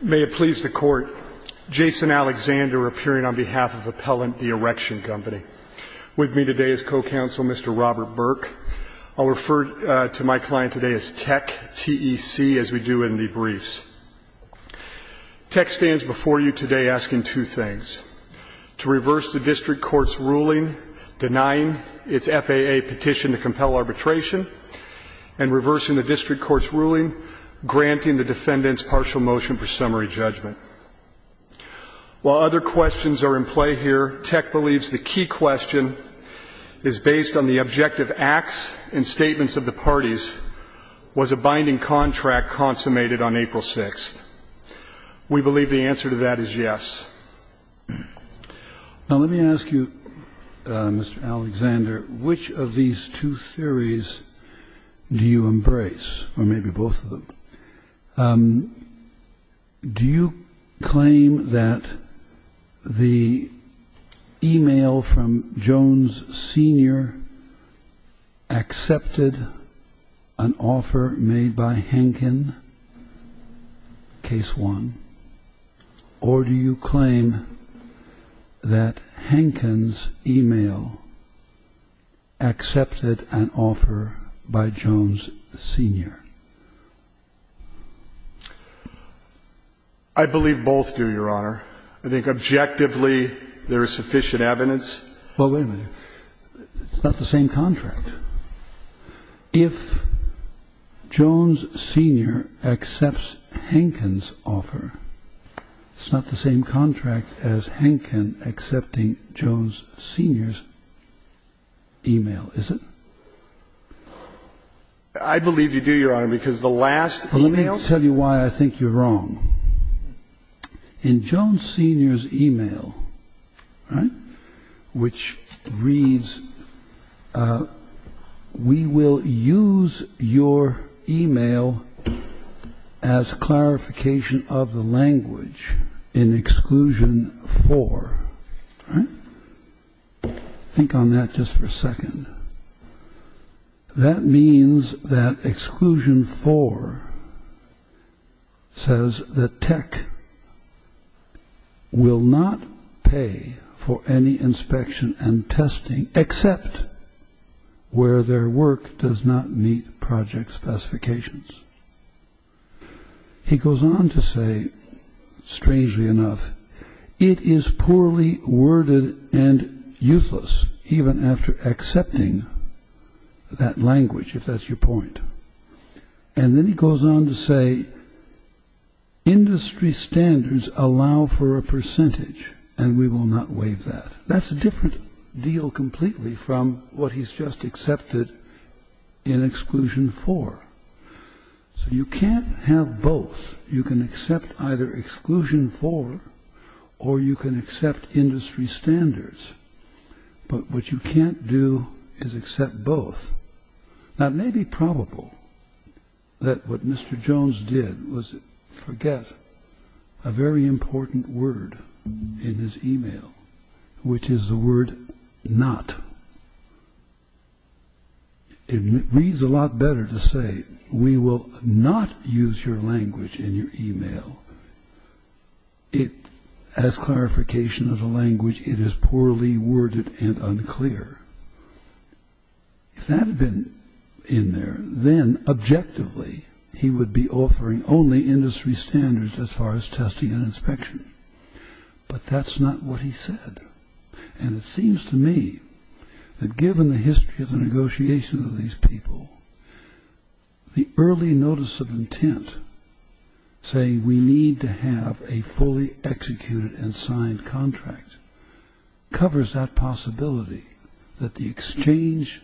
May it please the Court, Jason Alexander appearing on behalf of Appellant, The Erection Company. With me today is co-counsel, Mr. Robert Burke. I'll refer to my client today as TEC, T-E-C, as we do in debriefs. TEC stands before you today asking two things, to reverse the district court's ruling denying its FAA petition to compel arbitration and reversing the district court's ruling granting the defendant's partial motion for summary judgment. While other questions are in play here, TEC believes the key question is based on the objective acts and statements of the parties. Was a binding contract consummated on April 6th? We believe the answer to that is yes. Now let me ask you, Mr. Alexander, which of these two theories do you embrace, or maybe both of them? Do you claim that the e-mail from Jones Sr. accepted an offer made by Henkin, Case 1? Or do you claim that Henkin's e-mail accepted an offer by Jones Sr.? I believe both do, Your Honor. I think objectively there is sufficient evidence. Well, wait a minute. It's not the same contract. If Jones Sr. accepts Henkin's offer, it's not the same contract as Henkin accepting Jones Sr.'s e-mail, is it? I believe you do, Your Honor, because the last e-mail... Well, let me tell you why I think you're wrong. In Jones Sr.'s e-mail, which reads, Think on that just for a second. That means that Exclusion 4 says that He goes on to say, strangely enough, that language, if that's your point. And then he goes on to say, That's a different deal completely from what he's just accepted in Exclusion 4. So you can't have both. You can accept either Exclusion 4, or you can accept Industry Standards. But what you can't do is accept both. Now, it may be probable that what Mr. Jones did was forget a very important word in his e-mail, which is the word not. It reads a lot better to say, We will not use your language in your e-mail. If that had been in there, then objectively, he would be offering only Industry Standards as far as testing and inspection. But that's not what he said. And it seems to me that given the history of the negotiations of these people, the early notice of intent saying, We need to have a fully executed and signed contract, covers that possibility that the exchange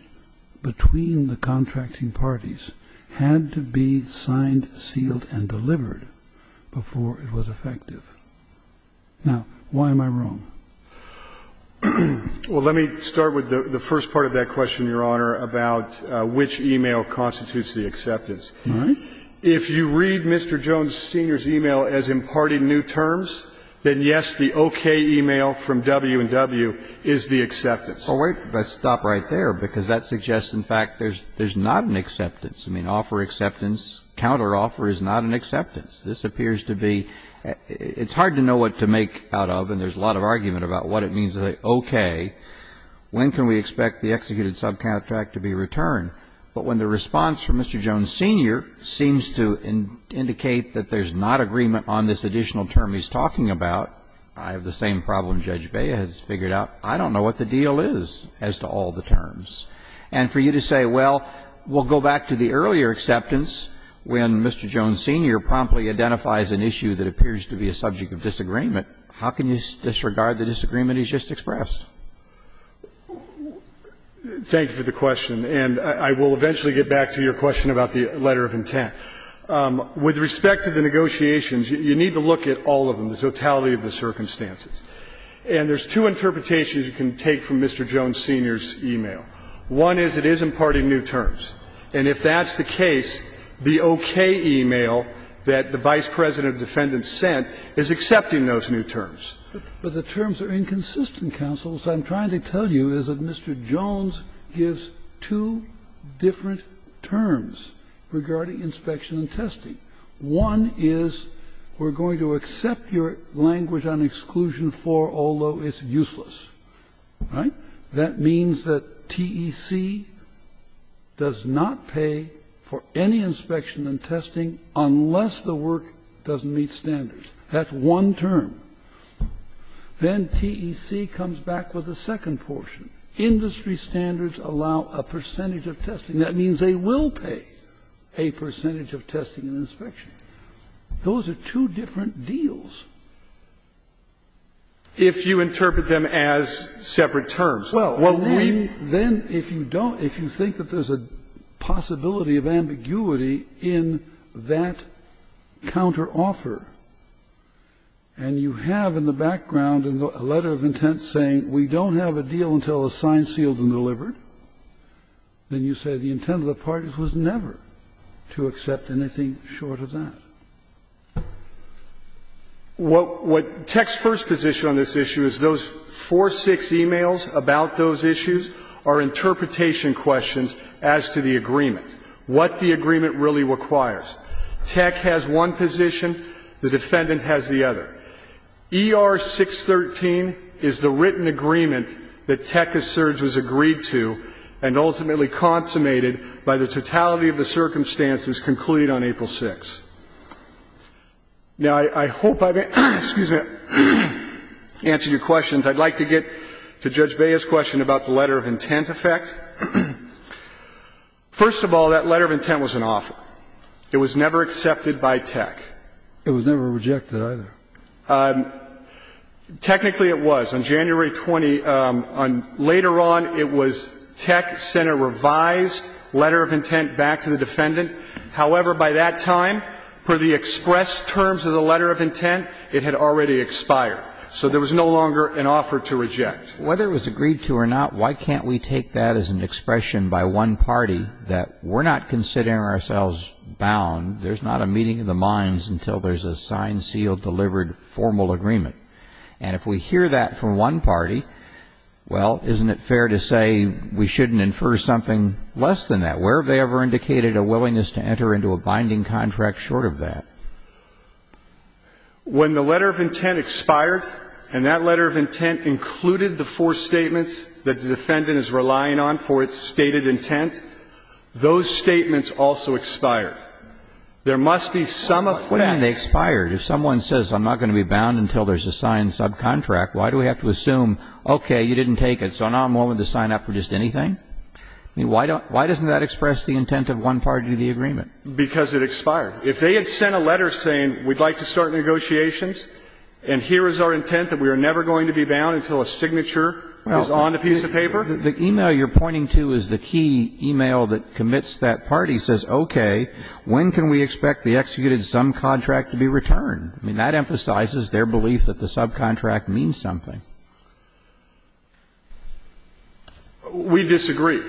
between the contracting parties had to be signed, sealed, and delivered before it was effective. Now, why am I wrong? Well, let me start with the first part of that question, Your Honor, about which e-mail constitutes the acceptance. All right. If you read Mr. Jones, Sr.'s e-mail as imparting new terms, then yes, the okay e-mail from W&W is the acceptance. Well, wait. Let's stop right there, because that suggests, in fact, there's not an acceptance. I mean, offer acceptance, counteroffer is not an acceptance. This appears to be — it's hard to know what to make out of, and there's a lot of argument about what it means to say okay. When can we expect the executed subcontract to be returned? But when the response from Mr. Jones, Sr. seems to indicate that there's not agreement on this additional term he's talking about, I have the same problem Judge Bea has figured out. I don't know what the deal is as to all the terms. And for you to say, well, we'll go back to the earlier acceptance when Mr. Jones, Sr. promptly identifies an issue that appears to be a subject of disagreement, how can you disregard the disagreement he's just expressed? Thank you for the question. And I will eventually get back to your question about the letter of intent. With respect to the negotiations, you need to look at all of them, the totality of the circumstances. And there's two interpretations you can take from Mr. Jones, Sr.'s e-mail. One is it is imparting new terms. And if that's the case, the okay e-mail that the Vice President of Defendants sent is accepting those new terms. But the terms are inconsistent, counsel. What I'm trying to tell you is that Mr. Jones gives two different terms regarding inspection and testing. One is, we're going to accept your language on exclusion for, although it's useless. Right? That means that TEC does not pay for any inspection and testing unless the work doesn't meet standards. That's one term. Then TEC comes back with a second portion. Industry standards allow a percentage of testing. That means they will pay a percentage of testing and inspection. Those are two different deals. If you interpret them as separate terms. Well, then if you don't, if you think that there's a possibility of ambiguity in that counteroffer, and you have in the background a letter of intent saying we don't have a deal until the sign's sealed and delivered, then you say the intent of the parties was never to accept anything short of that. What TEC's first position on this issue is those four, six e-mails about those issues are interpretation questions as to the agreement. What the agreement really requires. TEC has one position. The defendant has the other. ER 613 is the written agreement that TEC asserts was agreed to and ultimately consummated by the totality of the circumstances concluded on April 6th. Now, I hope I've answered your questions. I'd like to get to Judge Bea's question about the letter of intent effect. First of all, that letter of intent was an offer. It was never accepted by TEC. It was never rejected either. Technically it was. On January 20, later on, it was TEC sent a revised letter of intent back to the defendant. However, by that time, per the express terms of the letter of intent, it had already expired. So there was no longer an offer to reject. Whether it was agreed to or not, why can't we take that as an expression by one party that we're not considering ourselves bound, there's not a meeting of the minds until there's a signed, sealed, delivered formal agreement. And if we hear that from one party, well, isn't it fair to say we shouldn't infer something less than that? Where have they ever indicated a willingness to enter into a binding contract short of that? When the letter of intent expired, and that letter of intent included the four statements that the defendant is relying on for its stated intent, those statements also expired. There must be some effect. But then they expired. If someone says, I'm not going to be bound until there's a signed subcontract, why do we have to assume, okay, you didn't take it, so now I'm willing to sign up for just anything? I mean, why doesn't that express the intent of one party to the agreement? Because it expired. If they had sent a letter saying, we'd like to start negotiations, and here is our intent that we are never going to be bound until a signature is on the piece of paper? The email you're pointing to is the key email that commits that party, says, okay, when can we expect the executed subcontract to be returned? I mean, that emphasizes their belief that the subcontract means something. We disagree.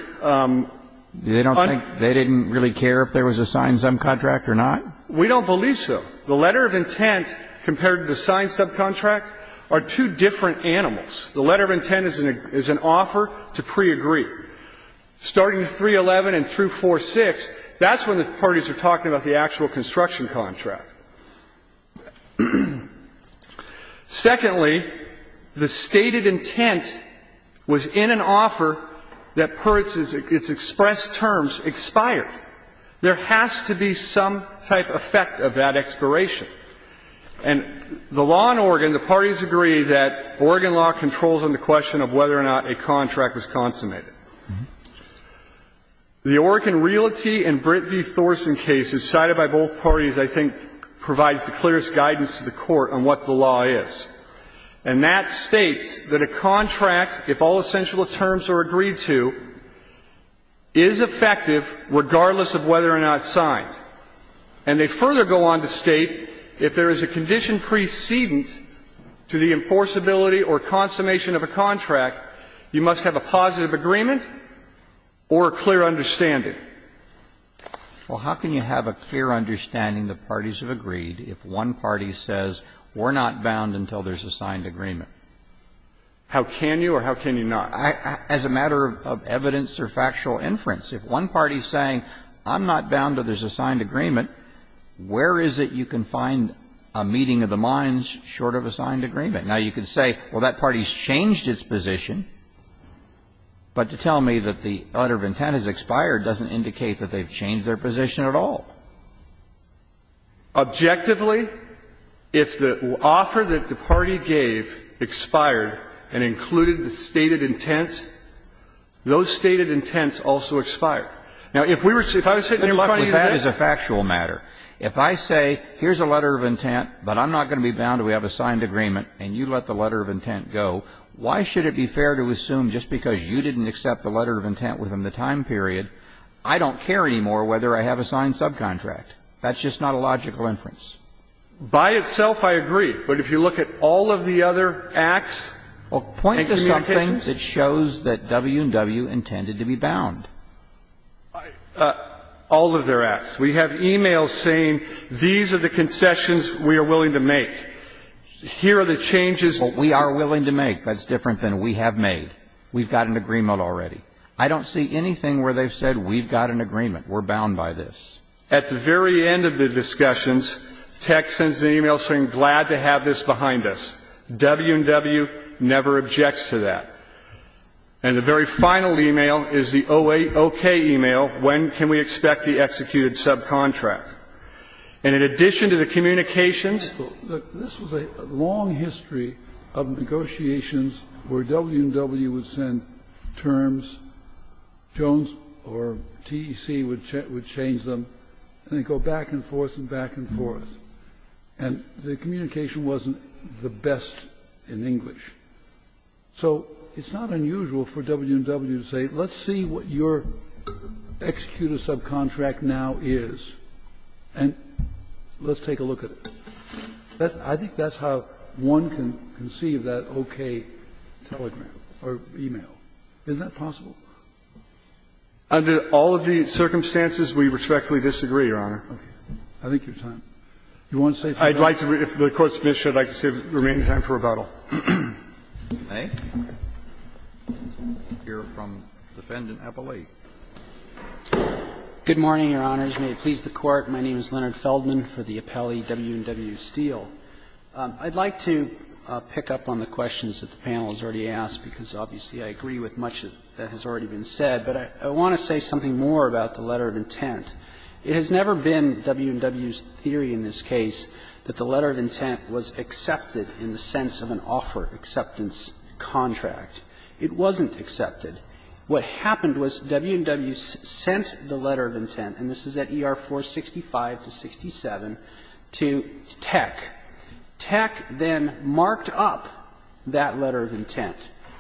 They don't think they didn't really care if there was a signed subcontract or not. We don't believe so. The letter of intent compared to the signed subcontract are two different animals. The letter of intent is an offer to pre-agree. Starting at 311 and through 4-6, that's when the parties are talking about the actual construction contract. Secondly, the stated intent was in an offer that per its expressed terms expired. There has to be some type of effect of that expiration. And the law in Oregon, the parties agree that Oregon law controls on the question of whether or not a contract was consummated. The Oregon Realty and Britt v. Thorson case is cited by both parties, I think, provides the clearest guidance to the Court on what the law is. And that states that a contract, if all essential terms are agreed to, is effective regardless of whether or not it's signed. And they further go on to state, if there is a condition precedence to the enforceability or consummation of a contract, you must have a positive agreement or a clear understanding. Well, how can you have a clear understanding the parties have agreed if one party says we're not bound until there's a signed agreement? How can you or how can you not? As a matter of evidence or factual inference, if one party is saying I'm not bound until there's a signed agreement, where is it you can find a meeting of the minds short of a signed agreement? Now, you can say, well, that party's changed its position, but to tell me that the utter of intent has expired doesn't indicate that they've changed their position at all. Objectively, if the offer that the party gave expired and included the stated intent and the stated intent, those stated intents also expire. Now, if we were sitting in front of you today and you said, well, that is a factual matter. If I say here's a letter of intent, but I'm not going to be bound until we have a signed agreement, and you let the letter of intent go, why should it be fair to assume just because you didn't accept the letter of intent within the time period, I don't care anymore whether I have a signed subcontract? That's just not a logical inference. By itself, I agree. But if you look at all of the other acts and communications. We have everything that shows that W&W intended to be bound. All of their acts. We have e-mails saying these are the concessions we are willing to make. Here are the changes. But we are willing to make. That's different than we have made. We've got an agreement already. I don't see anything where they've said we've got an agreement, we're bound by this. At the very end of the discussions, Tech sends an e-mail saying, glad to have this behind us. W&W never objects to that. And the very final e-mail is the 08-OK e-mail, when can we expect the executed subcontract? And in addition to the communications. This was a long history of negotiations where W&W would send terms, Jones or TEC would change them, and they'd go back and forth and back and forth. And the communication wasn't the best in English. So it's not unusual for W&W to say, let's see what your executed subcontract now is and let's take a look at it. I think that's how one can conceive that OK telegram or e-mail. Isn't that possible? Under all of the circumstances, we respectfully disagree, Your Honor. I think your time. You want to say something else? I'd like to, if the Court submits, I'd like to say remain in time for rebuttal. May I hear from Defendant Appellee? Good morning, Your Honors. May it please the Court. My name is Leonard Feldman for the appellee W&W Steele. I'd like to pick up on the questions that the panel has already asked, because obviously I agree with much that has already been said. But I want to say something more about the letter of intent. It has never been W&W's theory in this case that the letter of intent was accepted in the sense of an offer acceptance contract. It wasn't accepted. What happened was W&W sent the letter of intent, and this is at ER 465 to 67, to TEC. TEC then marked up that letter of intent,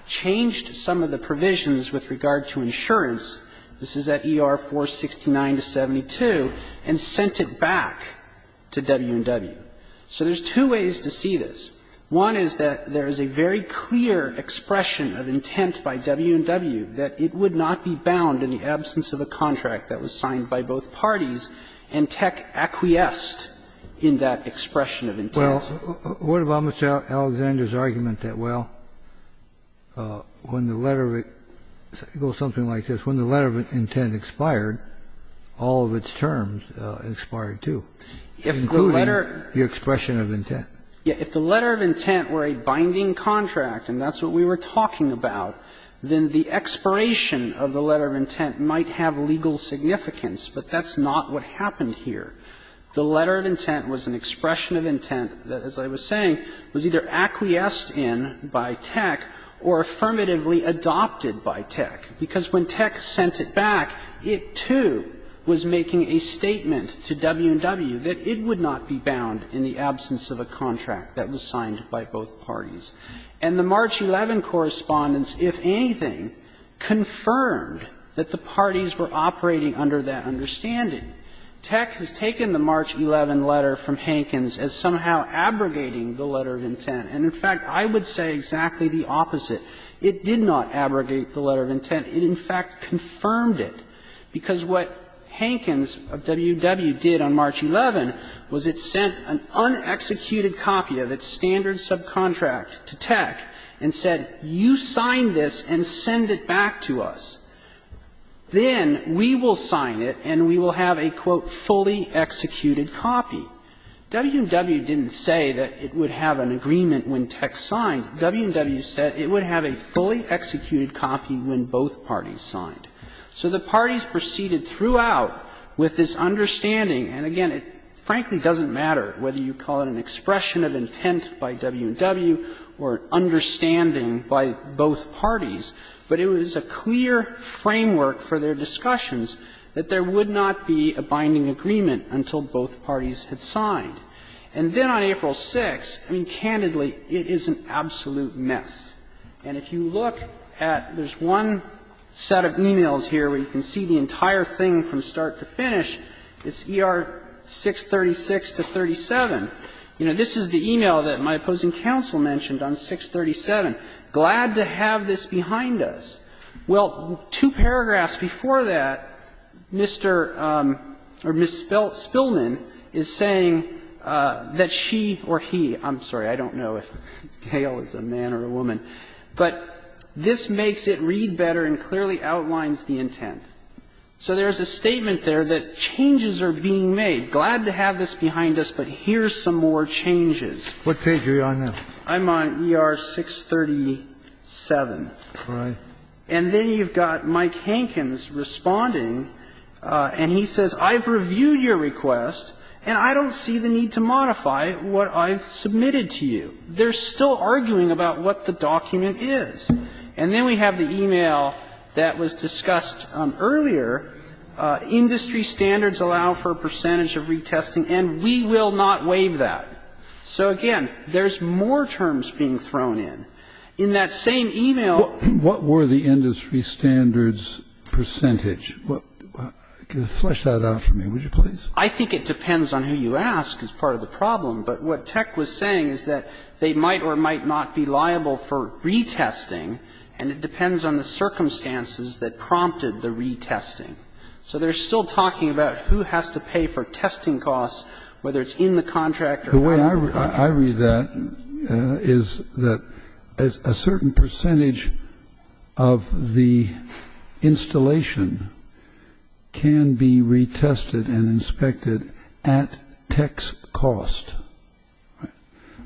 changed some of the provisions with regard to insurance, this is at ER 469 to 72, and sent it back to W&W. So there's two ways to see this. One is that there is a very clear expression of intent by W&W that it would not be bound in the absence of a contract that was signed by both parties, and TEC acquiesced in that expression of intent. Well, what about Mr. Alexander's argument that, well, when the letter of it goes something like this, when the letter of intent expired, all of its terms expired, too, including the expression of intent? Yeah. If the letter of intent were a binding contract, and that's what we were talking about, then the expiration of the letter of intent might have legal significance, but that's not what happened here. The letter of intent was an expression of intent that, as I was saying, was either acquiesced in by TEC or affirmatively adopted by TEC, because when TEC sent it back, it, too, was making a statement to W&W that it would not be bound in the absence of a contract that was signed by both parties. And the March 11 correspondence, if anything, confirmed that the parties were operating under that understanding. TEC has taken the March 11 letter from Hankins as somehow abrogating the letter of intent. And, in fact, I would say exactly the opposite. It did not abrogate the letter of intent. It, in fact, confirmed it, because what Hankins of W&W did on March 11 was it sent an unexecuted copy of its standard subcontract to TEC and said, you sign this and send it back to us. Then we will sign it and we will have a, quote, ''fully executed copy.'' W&W didn't say that it would have an agreement when TEC signed. W&W said it would have a fully executed copy when both parties signed. So the parties proceeded throughout with this understanding, and again, it frankly doesn't matter whether you call it an expression of intent by W&W or an understanding by both parties, but it was a clear framework for their discussions that there would not be a binding agreement until both parties had signed. And then on April 6th, I mean, candidly, it is an absolute mess. And if you look at there's one set of e-mails here where you can see the entire thing from start to finish, it's ER 636 to 37. You know, this is the e-mail that my opposing counsel mentioned on 637, glad to have this behind us. Well, two paragraphs before that, Mr. or Ms. Spillman is saying that she or he, I'm sorry, I don't know if Dale is a man or a woman, but this makes it read better and clearly outlines the intent. So there's a statement there that changes are being made. Glad to have this behind us, but here's some more changes. Kennedy, what page are you on now? I'm on ER 637. All right. And then you've got Mike Hankins responding, and he says, I've reviewed your request, and I don't see the need to modify what I've submitted to you. They're still arguing about what the document is. And then we have the e-mail that was discussed earlier. Industry standards allow for a percentage of retesting, and we will not waive that. So, again, there's more terms being thrown in. In that same e-mail What were the industry standards percentage? Flesh that out for me, would you please? I think it depends on who you ask is part of the problem, but what Tech was saying is that they might or might not be liable for retesting, and it depends on the circumstances that prompted the retesting. So they're still talking about who has to pay for testing costs, whether it's in the contract or out of the contract. The way I read that is that a certain percentage of the installation can be retested and inspected at Tech's cost.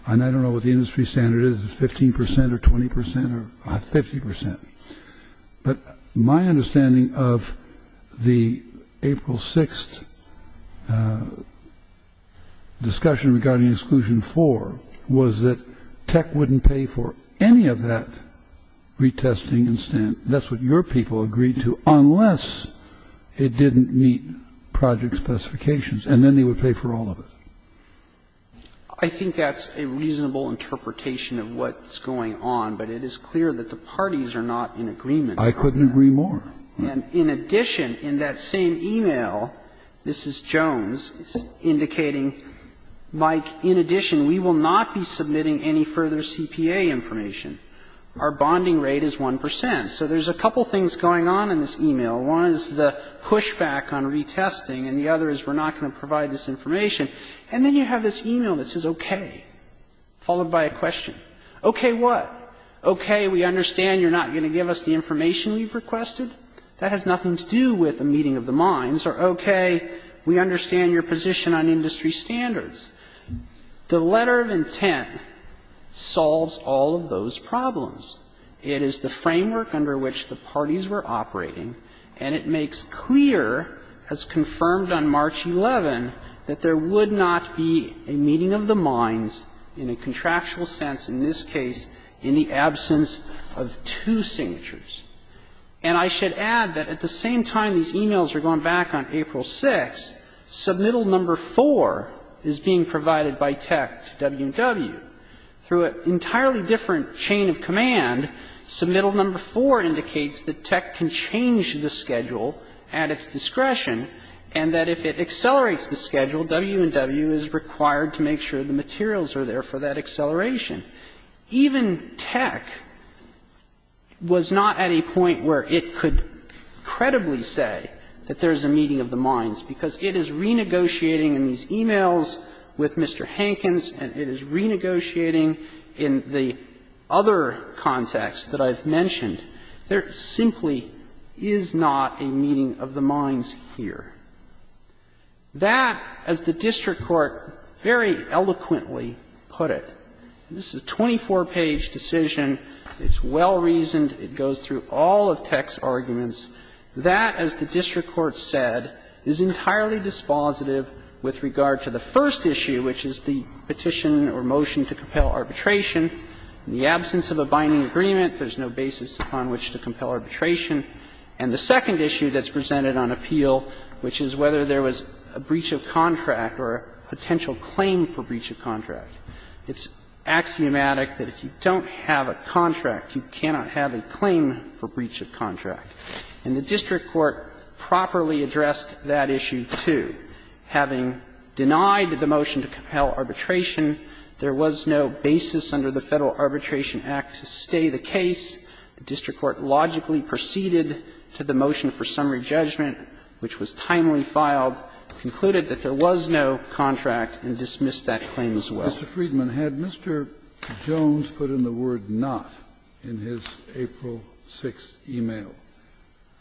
And I don't know what the industry standard is, 15% or 20% or 50%. But my understanding of the April 6 discussion regarding exclusion four was that Tech wouldn't pay for any of that retesting and stamp. That's what your people agreed to, unless it didn't meet project specifications, and then they would pay for all of it. I think that's a reasonable interpretation of what's going on, but it is clear that the parties are not in agreement. I couldn't agree more. And in addition, in that same e-mail, this is Jones indicating, Mike, in addition, we will not be submitting any further CPA information. Our bonding rate is 1%. So there's a couple things going on in this e-mail. One is the pushback on retesting, and the other is we're not going to provide this information. And then you have this e-mail that says, okay, followed by a question. Okay, what? Okay, we understand you're not going to give us the information we've requested. That has nothing to do with a meeting of the minds. Or okay, we understand your position on industry standards. The letter of intent solves all of those problems. It is the framework under which the parties were operating, and it makes clear, as confirmed on March 11, that there would not be a meeting of the minds in a contractual sense in this case in the absence of two signatures. And I should add that at the same time these e-mails are going back on April 6, submittal number 4 is being provided by TEC to W&W through an entirely different chain of command Submittal number 4 indicates that TEC can change the schedule at its discretion and that if it accelerates the schedule, W&W is required to make sure the materials are there for that acceleration. Even TEC was not at a point where it could credibly say that there is a meeting of the minds, because it is renegotiating in these e-mails with Mr. Hankins, and it is renegotiating in the other context that I've mentioned. There simply is not a meeting of the minds here. That, as the district court very eloquently put it, this is a 24-page decision. It's well reasoned. It goes through all of TEC's arguments. That, as the district court said, is entirely dispositive with regard to the first issue, which is the petition or motion to compel arbitration. In the absence of a binding agreement, there's no basis upon which to compel arbitration. And the second issue that's presented on appeal, which is whether there was a breach of contract or a potential claim for breach of contract. It's axiomatic that if you don't have a contract, you cannot have a claim for breach of contract. And the district court properly addressed that issue, too. Having denied the motion to compel arbitration, there was no basis under the Federal Arbitration Act to stay the case. The district court logically proceeded to the motion for summary judgment, which was timely filed, concluded that there was no contract, and dismissed that claim as well. Kennedy, Mr. Friedman, had Mr. Jones put in the word ''not'' in his April 6th e-mail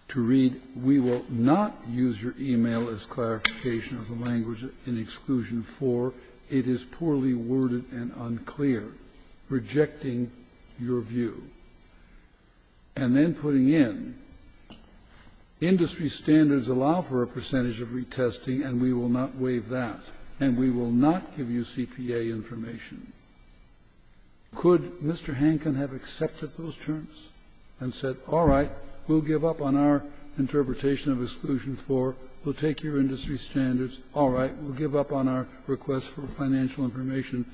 to read, ''We will not use your e-mail as clarification of the language in Exclusion IV. It is poorly worded and unclear.'' Rejecting your view, and then putting in, ''Industry standards allow for a percentage of retesting and we will not waive that. And we will not give you CPA information.'' Could Mr. Hankin have accepted those terms and said, all right, we'll give up on our interpretation of Exclusion IV, we'll take your industry standards, all right, we'll give up on our request for financial information,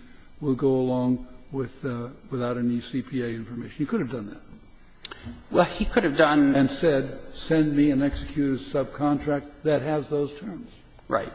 we'll go along with the ''without any CPA information.'' He could have done that. He could have done and said, send me an executor's subcontract that has those terms. Right.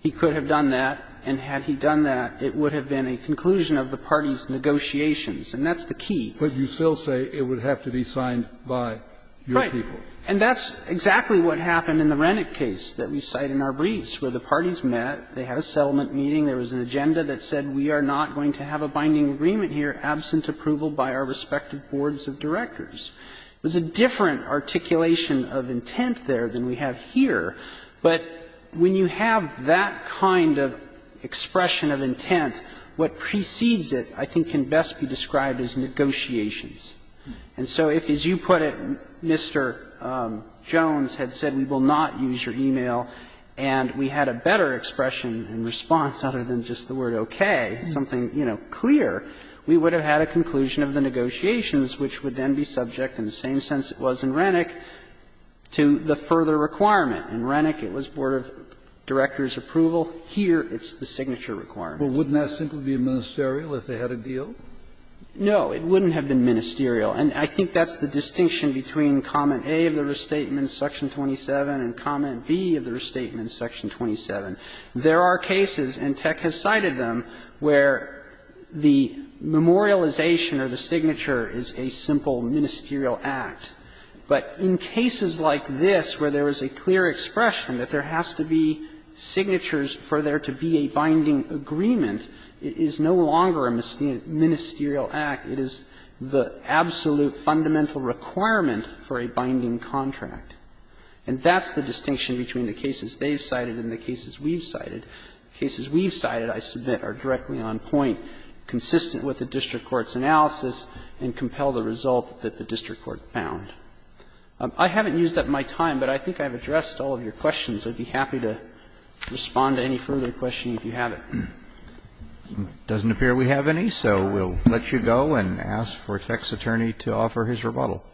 He could have done that, and had he done that, it would have been a conclusion of the party's negotiations, and that's the key. But you still say it would have to be signed by your people. Right. And that's exactly what happened in the Rennick case that we cite in our briefs, where the parties met, they had a settlement meeting, there was an agenda that said we are not going to have a binding agreement here absent approval by our respective boards of directors. It was a different articulation of intent there than we have here. But when you have that kind of expression of intent, what precedes it, I think, can best be described as negotiations. And so if, as you put it, Mr. Jones had said we will not use your e-mail and we had a better expression and response other than just the word okay, something, you know, clear, we would have had a conclusion of the negotiations, which would then be subject, in the same sense it was in Rennick, to the further requirement. In Rennick it was board of directors' approval. Here it's the signature requirement. Kennedy, but wouldn't that simply be ministerial if they had a deal? No. It wouldn't have been ministerial. And I think that's the distinction between comment A of the restatement, section 27, and comment B of the restatement, section 27. There are cases, and Tech has cited them, where the memorialization or the signature is a simple ministerial act. But in cases like this, where there is a clear expression that there has to be signatures for there to be a binding agreement, it is no longer a ministerial act. It is the absolute fundamental requirement for a binding contract. And that's the distinction between the cases they've cited and the cases we've cited. The cases we've cited, I submit, are directly on point, consistent with the district court's analysis, and compel the result that the district court found. I haven't used up my time, but I think I've addressed all of your questions. I'd be happy to respond to any further questions if you have any. Roberts. Doesn't appear we have any, so we'll let you go and ask for Tech's attorney to offer his rebuttal.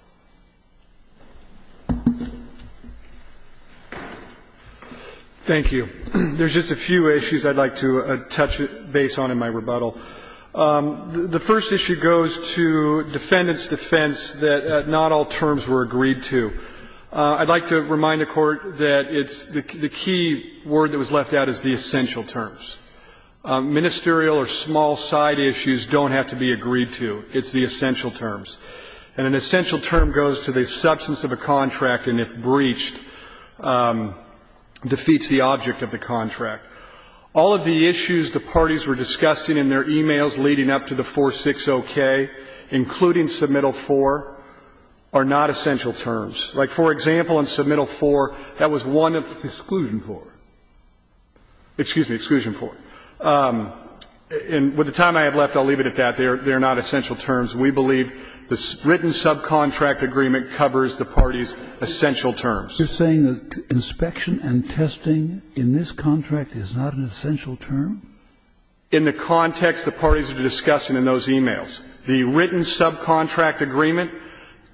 Thank you. There's just a few issues I'd like to touch base on in my rebuttal. The first issue goes to defendant's defense that not all terms were agreed to. I'd like to remind the Court that it's the key word that was left out is the essential terms. Ministerial or small side issues don't have to be agreed to. It's the essential terms. And an essential term goes to the substance of a contract, and if breached, defeats the object of the contract. All of the issues the parties were discussing in their e-mails leading up to the 460-K, including submittal 4, are not essential terms. Like, for example, in submittal 4, that was one of exclusion 4. Excuse me, exclusion 4. And with the time I have left, I'll leave it at that. They are not essential terms. We believe the written subcontract agreement covers the parties' essential terms. So you're saying that inspection and testing in this contract is not an essential term? In the context the parties are discussing in those e-mails. The written subcontract agreement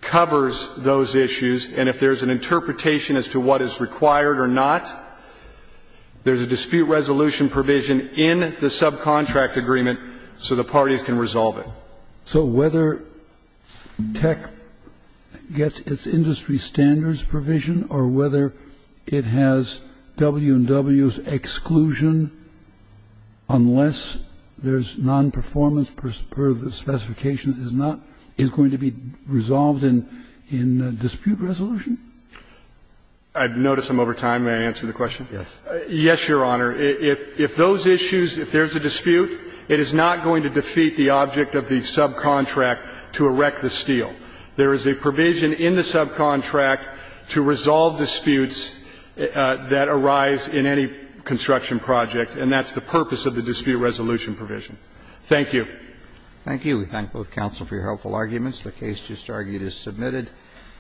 covers those issues, and if there's an interpretation as to what is required or not, there's a dispute resolution provision in the subcontract agreement so the parties can resolve it. So whether Tech gets its industry standards provision or whether it has W&W's exclusion unless there's nonperformance per the specification is not going to be resolved in dispute resolution? I notice I'm over time. May I answer the question? Yes. Yes, Your Honor. If those issues, if there's a dispute, it is not going to defeat the object of the subcontract to erect the steel. There is a provision in the subcontract to resolve disputes that arise in any construction project, and that's the purpose of the dispute resolution provision. Thank you. Thank you. We thank both counsel for your helpful arguments. The case just argued is submitted.